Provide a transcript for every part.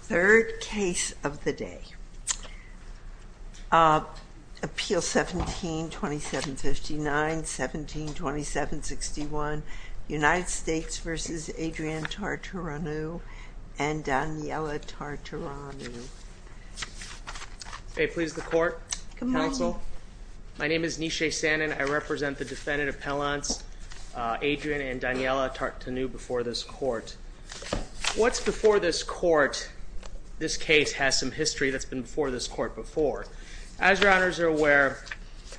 Third case of the day. Appeal 17-2759, 17-2761, United States v. Adrian Tartareanu and Daniela Tartareanu. May it please the court. My name is Nishay Sanon. I represent the defendant appellants Adrian and Daniela Tartareanu before this court. What's before this court? This case has some history that's been before this court before. As your honors are aware,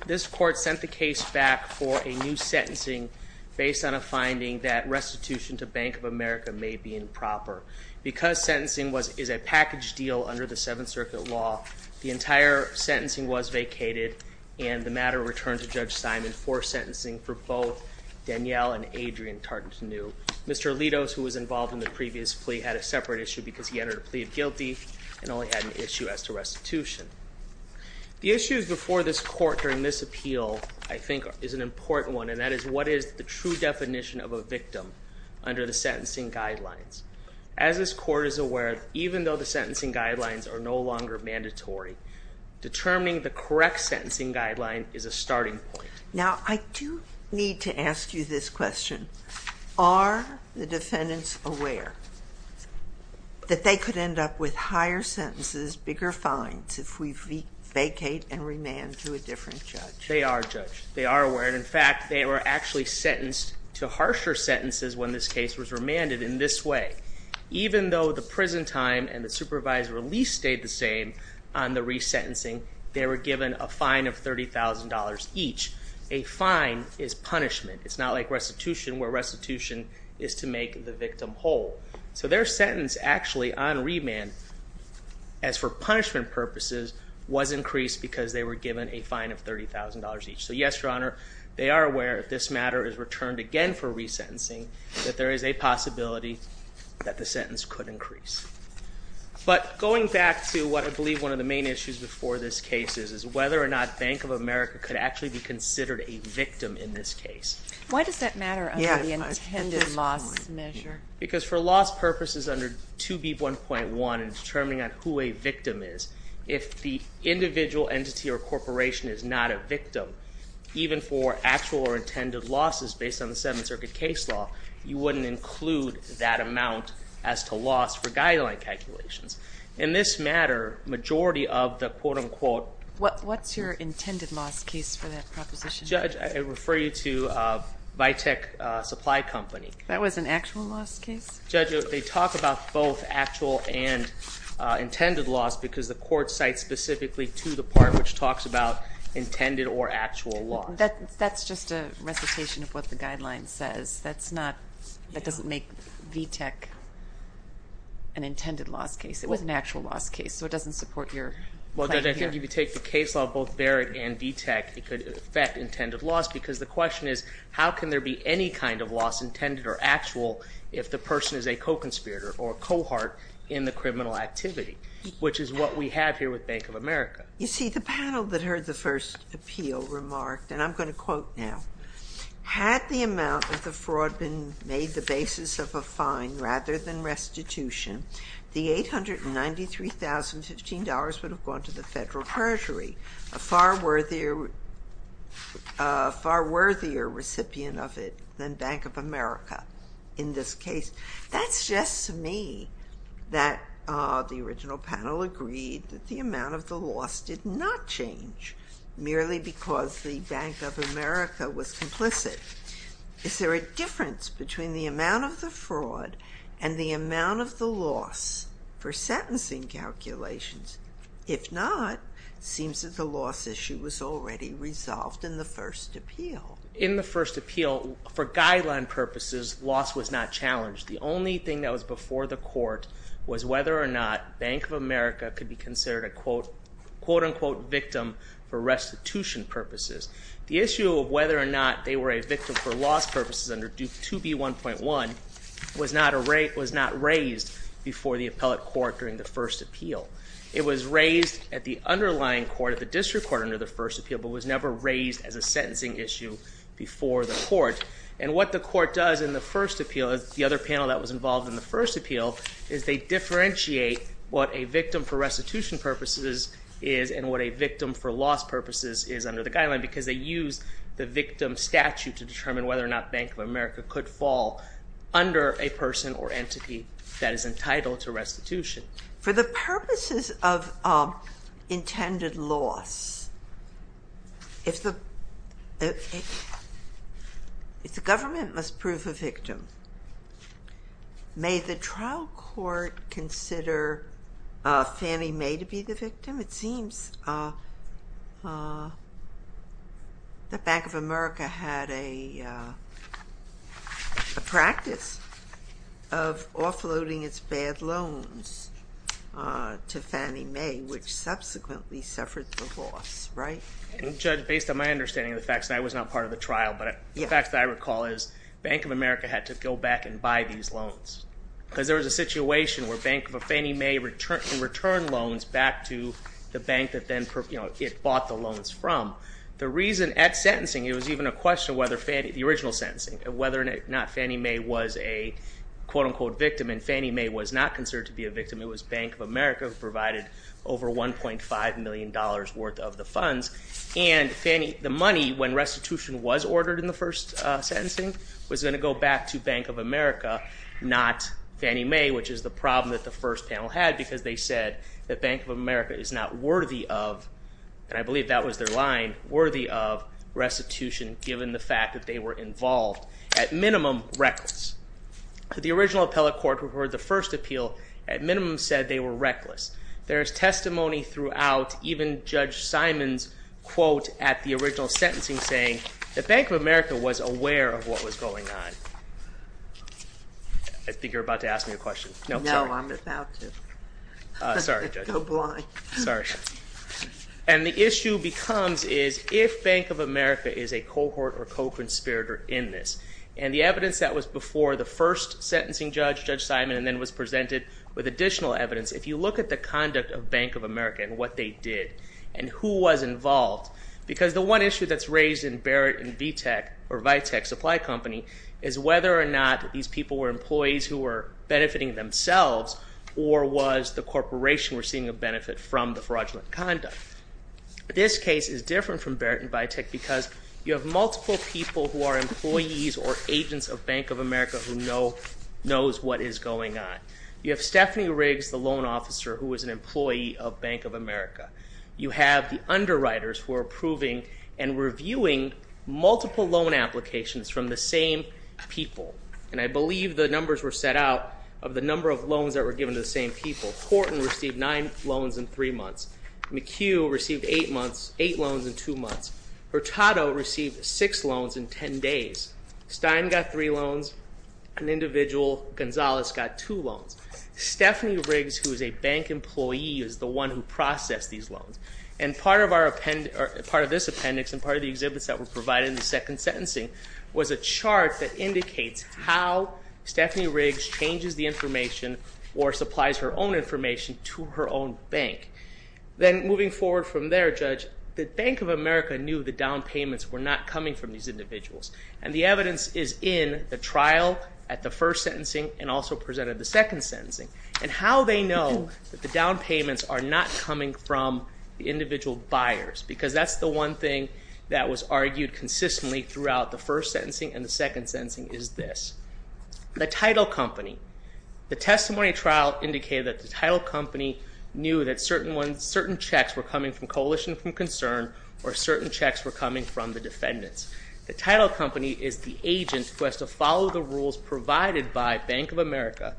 this court sent the case back for a new sentencing based on a finding that restitution to Bank of America may be improper. Because sentencing is a package deal under the Seventh Circuit law, the entire sentencing was vacated and the matter returned to Judge Simon for sentencing for both Daniela and Adrian Tartareanu. Mr. Alitos, who was involved in the previous plea, had a separate issue because he entered a plea of guilty and only had an issue as to restitution. The issues before this court during this appeal I think is an important one and that is what is the true definition of a victim under the sentencing guidelines. As this court is aware, even though the sentencing guidelines are no longer mandatory, determining the correct sentencing guideline is a starting point. Now, I do need to ask you this question. Are the defendants aware that they could end up with higher sentences, bigger fines if we vacate and remand to a different judge? They are, Judge. They are aware and in fact they were actually sentenced to harsher sentences when this case was remanded in this way. Even though the prison time and the supervisor release stayed the same on the resentencing, they were given a fine of $30,000 each. A fine is punishment. It's not like restitution where restitution is to make the victim whole. So their sentence actually on remand as for punishment purposes was increased because they were given a fine of $30,000 each. So yes, Your Honor, they are aware if this matter is returned again for resentencing that there is a possibility that the sentence could increase. But going back to what I believe one of the main issues before this case is, is whether or not Bank of America could actually be considered a victim in this case. Why does that matter under the intended loss measure? Because for loss purposes under 2B1.1 in determining who a victim is, if the individual entity or corporation is not a victim, even for actual or intended losses based on the Seventh Circuit case law, you wouldn't include that amount as to loss for guideline calculations. In this matter, majority of the quote-unquote. What's your intended loss case for that proposition? Judge, I refer you to Vitek Supply Company. That was an actual loss case? Judge, they talk about both actual and intended loss because the court cites specifically to the part which talks about intended or actual loss. That's just a recitation of what the guideline says. That's not, that doesn't make Vitek an intended loss case. It was an actual loss case. So it doesn't support your claim here. Well, Judge, I think if you take the case law of both Barrett and Vitek, it could affect intended loss because the question is how can there be any kind of loss, intended or actual, if the person is a co-conspirator or a cohort in the criminal activity, which is what we have here with Bank of America. You see the panel that heard the first appeal remarked, and I'm going to quote now, had the amount of the fraud been made the basis of a fine rather than restitution, the $893,015 would have gone to the Federal Treasury, a far worthier recipient of it than Bank of America in this case. That suggests to me that the original panel agreed that the amount of the loss did not change merely because the Bank of America was complicit. Is there a difference between the amount of the fraud and the amount of the loss for sentencing calculations? If not, seems that the loss issue was already resolved in the first appeal. In the first appeal, for guideline purposes, loss was not challenged. The only thing that was before the court was whether or not Bank of America could be considered a quote-unquote victim for restitution purposes. The issue of whether or not they were a victim for loss purposes under Duke 2B1.1 was not raised before the appellate court during the first appeal. It was raised at the underlying court, at the district court under the first appeal, but was never raised as a sentencing issue before the court. And what the court does in the first appeal, the other panel that was involved in the first appeal, is they differentiate what a victim for restitution purposes is and what a victim for loss purposes is under the guideline because they use the victim statute to determine whether or not Bank of America could fall under a person or entity that is entitled to restitution. For the purposes of intended loss, if the May the trial court consider Fannie Mae to be the victim? It seems that Bank of America had a practice of offloading its bad loans to Fannie Mae, which subsequently suffered the loss, right? Judge, based on my understanding of the facts, and I was not part of the trial, but the facts I recall is Bank of America had to go back and buy these loans. Because there was a situation where Bank of Fannie Mae returned loans back to the bank that it bought the loans from. The reason at sentencing, it was even a question of whether Fannie, the original sentencing, whether or not Fannie Mae was a quote unquote victim, and Fannie Mae was not considered to be a victim. It was Bank of America who provided over $1.5 million worth of the funds. And the money, when restitution was ordered in the first sentencing, was going to go back to Bank of America, not Fannie Mae, which is the problem that the first panel had because they said that Bank of America is not worthy of, and I believe that was their line, worthy of restitution given the fact that they were involved. At minimum, reckless. The original appellate court who heard the first appeal, at minimum said they were reckless. There is testimony throughout, even Judge Simon's quote at the original sentencing saying that Bank of America was aware of what was going on. I think you're about to ask me a question. No, sorry. No, I'm about to. Sorry, Judge. Go blind. Sorry. And the issue becomes is if Bank of America is a cohort or co-conspirator in this, and the evidence that was before the first sentencing judge, Judge Simon, and then was presented with additional evidence, if you look at the conduct of Bank of America and what they did and who was involved, because the one issue that's raised in Barrett and Vitek, or Vitek Supply Company, is whether or not these people were employees who were benefiting themselves or was the corporation receiving a benefit from the fraudulent conduct. This case is different from Barrett and Vitek because you have multiple people who are employees or agents of Bank of America who know, knows what is going on. You have Stephanie Riggs, the loan officer who was an employee of Bank of America. You have the underwriters who are approving and reviewing multiple loan applications from the same people. And I believe the numbers were set out of the number of loans that were given to the same people. Horton received nine loans in three months. McHugh received eight loans in two months. Hurtado received six loans in ten days. Stein got three loans. An individual, Gonzalez, got two loans. Stephanie Riggs, who is a bank employee, is the one who processed these loans. And part of this appendix and part of the exhibits that were provided in the second sentencing was a chart that indicates how Stephanie Riggs changes the information or supplies her own information to her own bank. Then moving forward from there, Judge, the Bank of America knew the down payments were not coming from these individuals. And the evidence is in the trial at the first sentencing and also presented at the second sentencing. And how they know that the down payments are not coming from the individual buyers, because that's the one thing that was argued consistently throughout the first sentencing and the second sentencing, is this. The title company. The testimony trial indicated that the title company knew that certain checks were coming from the defendants. The title company is the agent who has to follow the rules provided by Bank of America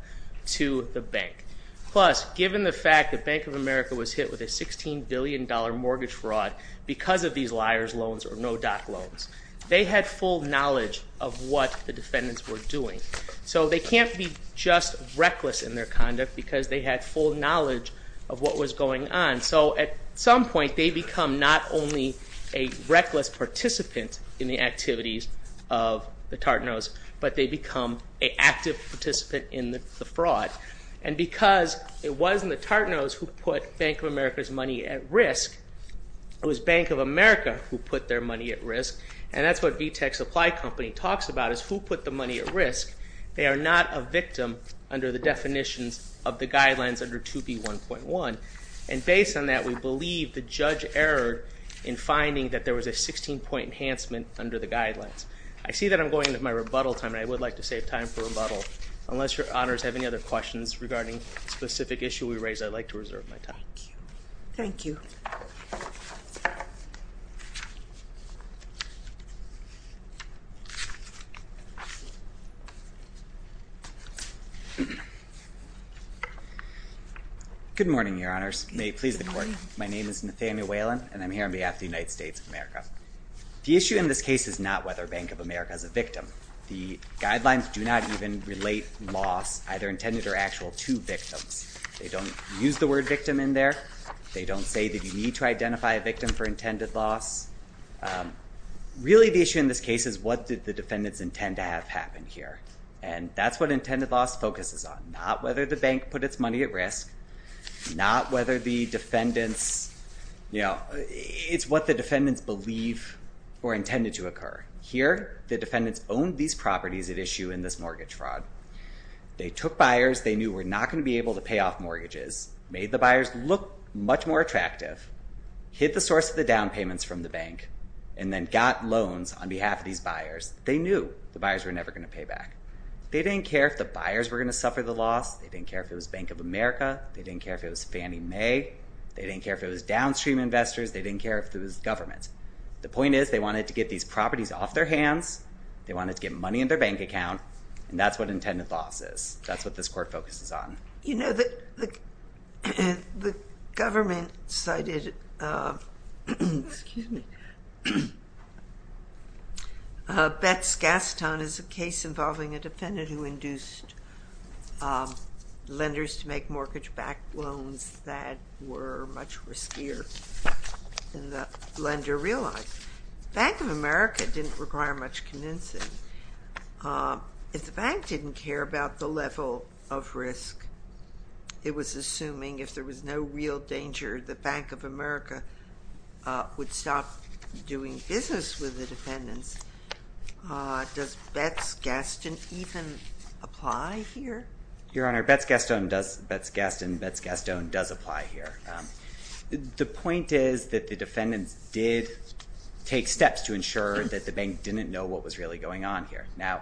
to the bank. Plus, given the fact that Bank of America was hit with a $16 billion mortgage fraud because of these liars loans or no-doc loans, they had full knowledge of what the defendants were doing. So they can't be just reckless in their conduct because they had full knowledge of what was going on. So at some point they become not only a reckless participant in the activities of the Tartanos, but they become an active participant in the fraud. And because it wasn't the Tartanos who put Bank of America's money at risk, it was Bank of America who put their money at risk. And that's what VTech Supply Company talks about is who put the money at risk. They are not a victim under the definitions of the guidelines under 2B1.1. And based on that, we believe the judge erred in finding that there was a 16-point enhancement under the guidelines. I see that I'm going into my rebuttal time, and I would like to save time for rebuttal. Unless your honors have any other questions regarding the specific issue we raised, I'd like to reserve my time. Thank you. Good morning, your honors. May it please the court. My name is Nathaniel Whalen, and I'm here on behalf of the United States of America. The issue in this case is not whether Bank of America is a victim. The guidelines do not even relate loss, either intended or actual, to victims. They don't use the word victim in there. They don't say that you need to identify a victim for intended loss. Really the issue in this case is what did the defendants intend to have happen here. And that's what intended loss focuses on, not whether the bank put its money at risk, not whether the defendants, you know, it's what the defendants believe were intended to occur. Here, the defendants owned these properties at issue in this mortgage fraud. They took buyers they knew were not going to be able to pay off mortgages, made the buyers look much more attractive, hid the source of the down payments from the bank, and then got loans on behalf of these buyers. They knew the buyers were never going to pay back. They didn't care if the buyers were going to suffer the loss. They didn't care if it was Bank of America. They didn't care if it was Fannie Mae. They didn't care if it was downstream investors. They didn't care if it was government. The point is they wanted to get these properties off their hands. They wanted to get money in their bank account, and that's what intended loss is. That's what this court focuses on. You know, the government cited, excuse me, Betz-Gaston as a case involving a defendant who induced lenders to make mortgage-backed loans that were much riskier than the lender realized. Bank of America didn't require much convincing. If the bank didn't care about the level of risk, it was assuming if there was no real danger, the Bank of America would stop doing business with the defendants. Does Betz-Gaston even apply here? Your Honor, Betz-Gaston does apply here. The point is that the defendants did take steps to ensure that the bank didn't know what was really going on here. Now,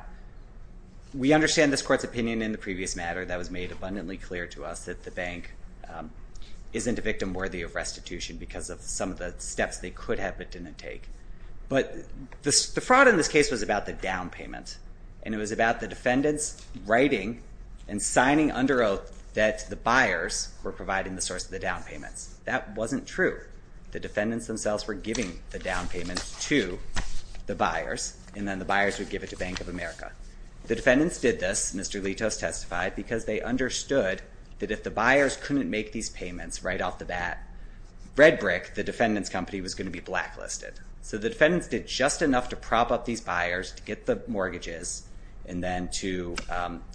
we understand this Court's opinion in the previous matter that was made abundantly clear to us that the bank isn't a victim worthy of restitution because of some of the steps they could have but didn't take. But the fraud in this case was about the down payment, and it was about the defendants writing and signing under oath that the buyers were providing the source of the down payments. That wasn't true. The defendants themselves were giving the down payment to the buyers, and then the buyers would give it to Bank of America. The defendants did this, Mr. Litos testified, because they understood that if the buyers couldn't make these payments right off the bat, red brick, the defendant's company was going to be blacklisted. So the defendants did just enough to prop up these buyers to get the mortgages and then to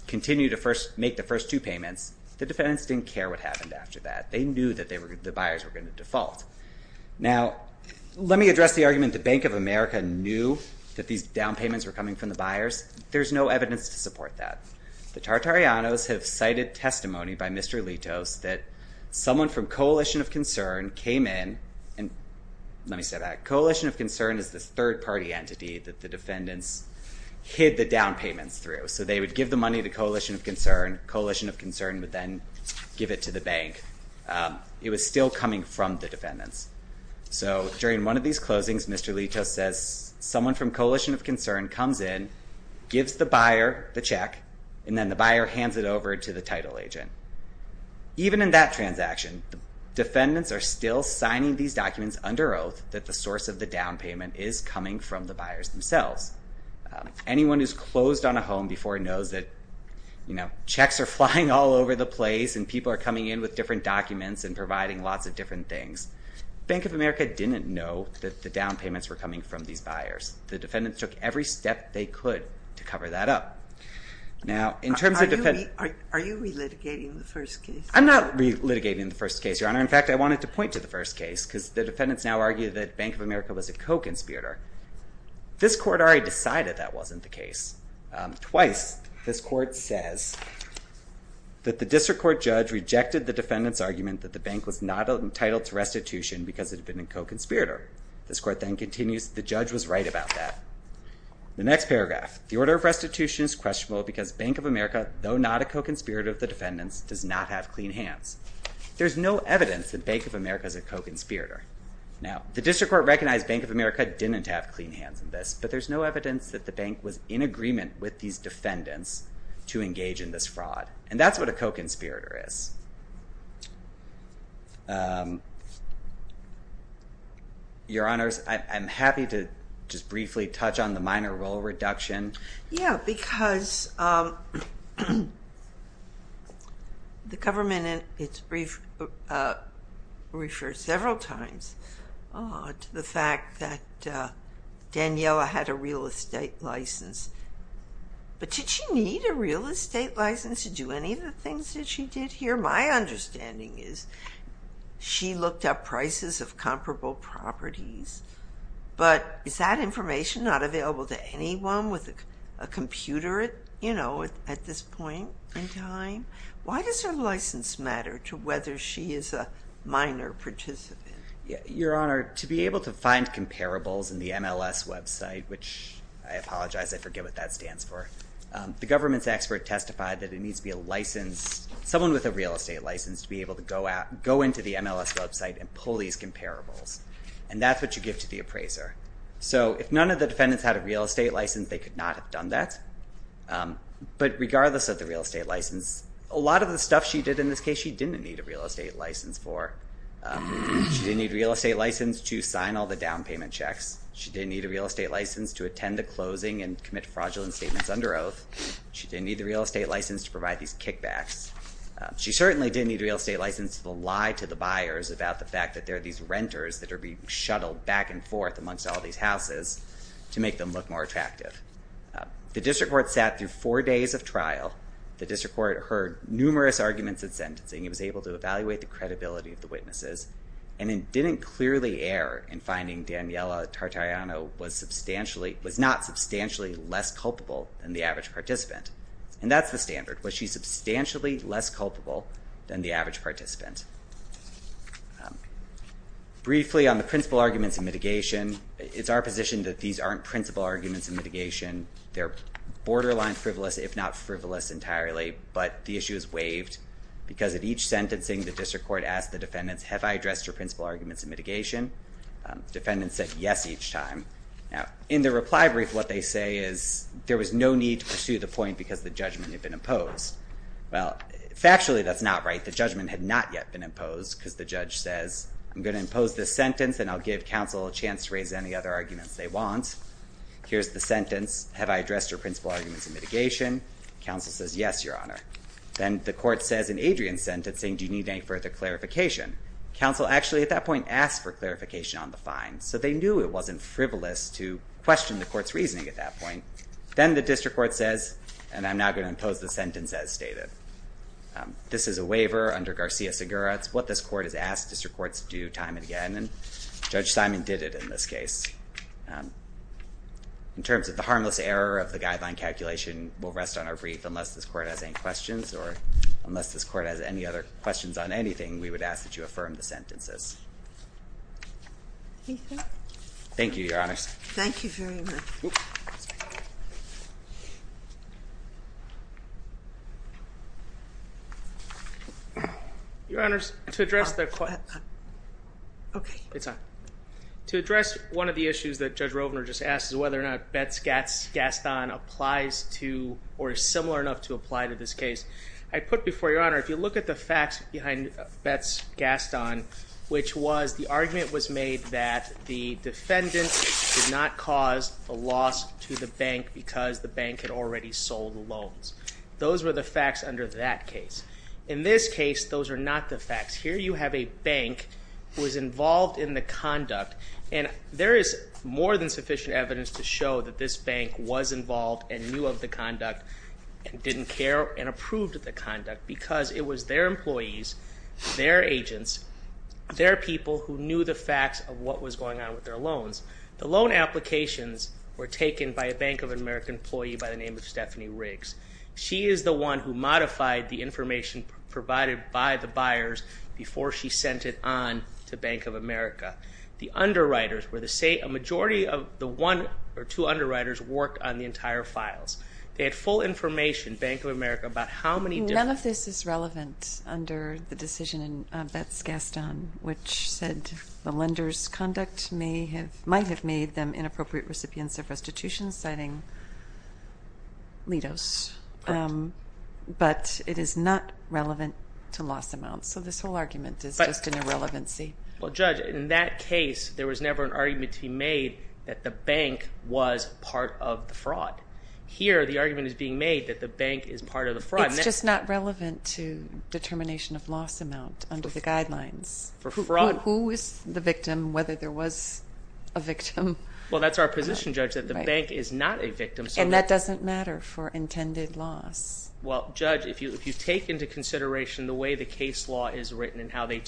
continue to first make the first two payments. The defendants didn't care what happened after that. They knew that the buyers were going to default. Now, let me address the argument that Bank of America knew that these down payments were coming from the buyers. There's no evidence to support that. The Tartarianos have cited testimony by Mr. Litos that someone from Coalition of Concern came in, and let me say that. Coalition of Concern is this third party entity that the defendants hid the down payments through. So they would give the money to Coalition of Concern. Coalition of Concern would then give it to the bank. It was still coming from the defendants. So during one of these closings, Mr. Litos says someone from Coalition of Concern comes in, gives the buyer the check, and then the buyer hands it over to the title agent. Even in that transaction, the defendants are still signing these documents under oath that the source of the down payment is coming from the buyers themselves. Anyone who's closed on a home before knows that checks are flying all over the place and people are coming in with different documents and providing lots of different things. Bank of America didn't know that the down payments were coming from these buyers. The defendants took every step they could to cover that up. Are you relitigating the first case? I'm not relitigating the first case, Your Honor. In fact, I wanted to point to the first case because the defendants now argue that Bank of America was a co-conspirator. This court already decided that wasn't the case. Twice, this court says that the district court judge rejected the defendant's argument that the bank was not entitled to restitution because it had been a co-conspirator. This court then continues, the judge was right about that. The next paragraph, the order of restitution is questionable because Bank of America, though not a co-conspirator of the defendants, does not have clean hands. There's no evidence that Bank of America is a co-conspirator. Now, the district court recognized Bank of America didn't have clean hands in this, but there's no evidence that the bank was in agreement with these defendants to engage in this fraud, and that's what a co-conspirator is. Your Honors, I'm happy to just briefly touch on the minor role reduction. Yeah, because the government, it's referred several times to the fact that Daniella had a real estate license, but did she need a real estate license to do any of the things that she did here? My understanding is she looked up prices of comparable properties, but is that information not available to anyone with a computer, you know, at this point in time? Why does her license matter to whether she is a minor participant? Your Honor, to be able to find comparables in the MLS website, which I apologize, I forget what that stands for, the government's expert testified that it needs to be a license, someone with a real estate license to be able to go out, go into the MLS website, and pull these comparables, and that's what you give to the appraiser. So if none of the defendants had a real estate license, they could not have done that, but regardless of the real estate license, a lot of the stuff she did in this case, she didn't need a real estate license for. She didn't need a real estate license to sign all the down payment checks. She didn't need a real estate license to attend the closing and commit fraudulent statements under oath. She didn't need a real estate license to provide these buyers about the fact that there are these renters that are being shuttled back and forth amongst all these houses to make them look more attractive. The district court sat through four days of trial. The district court heard numerous arguments in sentencing. It was able to evaluate the credibility of the witnesses, and it didn't clearly err in finding Daniella Tartagliano was not substantially less culpable than the average participant. And that's the case. Briefly on the principal arguments in mitigation, it's our position that these aren't principal arguments in mitigation. They're borderline frivolous, if not frivolous entirely, but the issue is waived because at each sentencing, the district court asked the defendants, have I addressed your principal arguments in mitigation? The defendants said yes each time. Now, in the reply brief, what they say is there was no need to pursue the point because the judgment had been imposed. Well, factually, that's not right. The judgment had not yet been imposed because the judge says, I'm going to impose this sentence, and I'll give counsel a chance to raise any other arguments they want. Here's the sentence. Have I addressed your principal arguments in mitigation? Counsel says yes, your honor. Then the court says in Adrian's sentencing, do you need any further clarification? Counsel actually at that point asked for clarification on the fine, so they knew it wasn't frivolous to question the court's reasoning at that point. Then the district court says, and I'm now going to impose the sentence as stated. This is a waiver under Garcia-Segura. It's what this court has asked district courts to do time and again, and Judge Simon did it in this case. In terms of the harmless error of the guideline calculation, we'll rest on our brief. Unless this court has any questions or unless this court has any other questions on anything, we would ask that you affirm the sentences. Anything? Thank you, your honor. Thank you very much. Your honors, to address the... Okay. It's on. To address one of the issues that Judge Rovner just asked is whether or not Betz-Gaston applies to or is similar enough to apply to this case. I put before your honor, if you look at the facts behind Betz-Gaston, which was the argument was made that the defendant did not cause a loss to the bank because the bank had already sold the loans. Those were the facts under that case. In this case, those are not the facts. Here you have a bank who was involved in the conduct, and there is more than sufficient evidence to show that this bank was involved and knew of the conduct and didn't care and approved of the conduct because it was their employees, their agents, their people who knew the facts of what was going on with their loans. The loan applications were taken by a Bank of America employee by the name of Stephanie Riggs. She is the one who modified the information provided by the buyers before she sent it on to Bank of America. The underwriters were the... A majority of the one or two underwriters worked on the whole information, Bank of America, about how many... None of this is relevant under the decision in Betz-Gaston, which said the lender's conduct might have made them inappropriate recipients of restitution, citing Litos, but it is not relevant to loss amounts. So this whole argument is just an irrelevancy. Well, Judge, in that case, there was never an argument to be made that the bank was part of the fraud. Here, the argument is being made that the bank is part of the fraud. It's just not relevant to determination of loss amount under the guidelines. For fraud. Who is the victim, whether there was a victim? Well, that's our position, Judge, that the bank is not a victim, so that... And that doesn't matter for intended loss. Well, Judge, if you take into consideration the way the case law is written and how they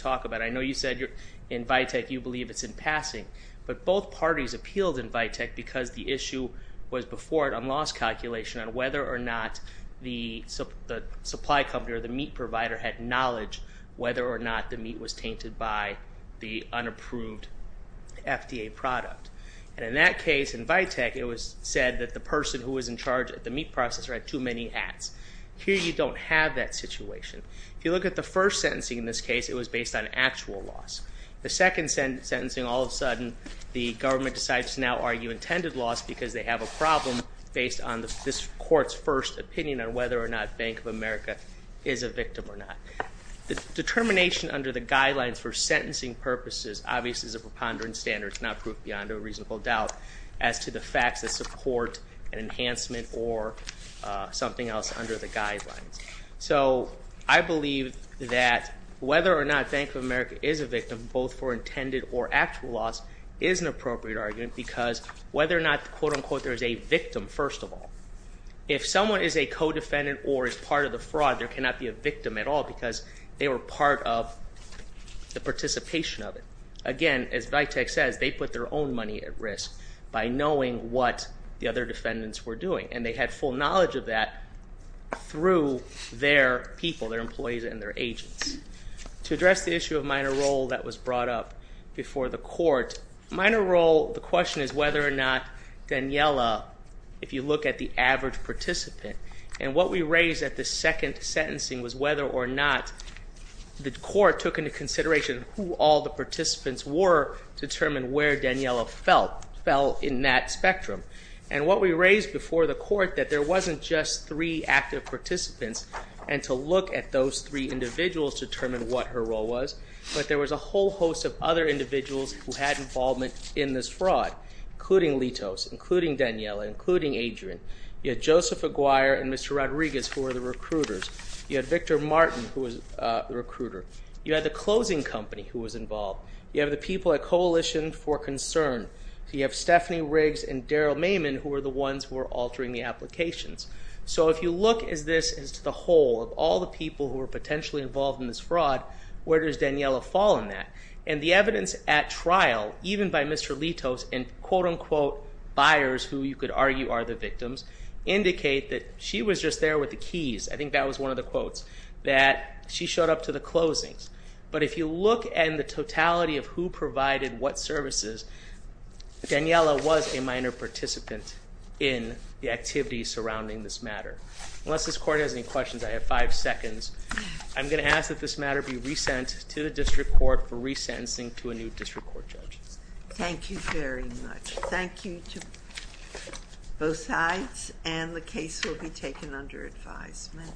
work, both parties appealed in Vitek because the issue was before it on loss calculation on whether or not the supply company or the meat provider had knowledge whether or not the meat was tainted by the unapproved FDA product. And in that case, in Vitek, it was said that the person who was in charge of the meat processor had too many hats. Here, you don't have that situation. If you look at the first sentencing in this case, it was based on actual loss. The second sentencing, all of a sudden, the government decides to now argue intended loss because they have a problem based on this court's first opinion on whether or not Bank of America is a victim or not. The determination under the guidelines for sentencing purposes obviously is a preponderance standard. It's not proof beyond a reasonable doubt as to the facts that support an enhancement or something else under the guidelines. So I believe that whether or not Bank of America is a victim, both for intended or actual loss, is an appropriate argument because whether or not, quote unquote, there's a victim, first of all. If someone is a co-defendant or is part of the fraud, there cannot be a victim at all because they were part of the participation of it. Again, as Vitek says, they put their own money at risk by knowing what the other defendants were doing. And they had full knowledge of that through their people, their employees and their agents. To address the issue of minor role that was brought up before the court, minor role, the question is whether or not Daniela, if you look at the average participant, and what we raised at the second sentencing was whether or not the court took into consideration who all the participants were to determine where Daniela fell in that spectrum. And what we raised before the court that there wasn't just three active participants and to look at those three individuals to determine what her role was, but there was a whole host of other individuals who had involvement in this fraud, including Litos, including Daniela, including Adrian. You had Joseph Aguirre and Mr. Rodriguez who were the recruiters. You had Victor Martin who was the recruiter. You had the closing company who was involved. You have the people at Coalition for Concern. You have Stephanie Riggs and Daryl Maiman who were the ones who were altering the applications. So if you look at this as the whole of all the people who were potentially involved in this fraud, where does Daniela fall in that? And the evidence at trial, even by Mr. Litos and quote unquote buyers who you could argue are the victims, indicate that she was just there with the keys. I think that was one of the quotes, that she showed up to the closings. But if you look at the totality of who provided what services, Daniela was a minor participant in the activities surrounding this matter. Unless this court has any questions, I have five seconds. I'm going to ask that this matter be resent to the district court for resentencing to a new district court judge. Thank you very much. Thank you to both sides and the case will be taken under advisement.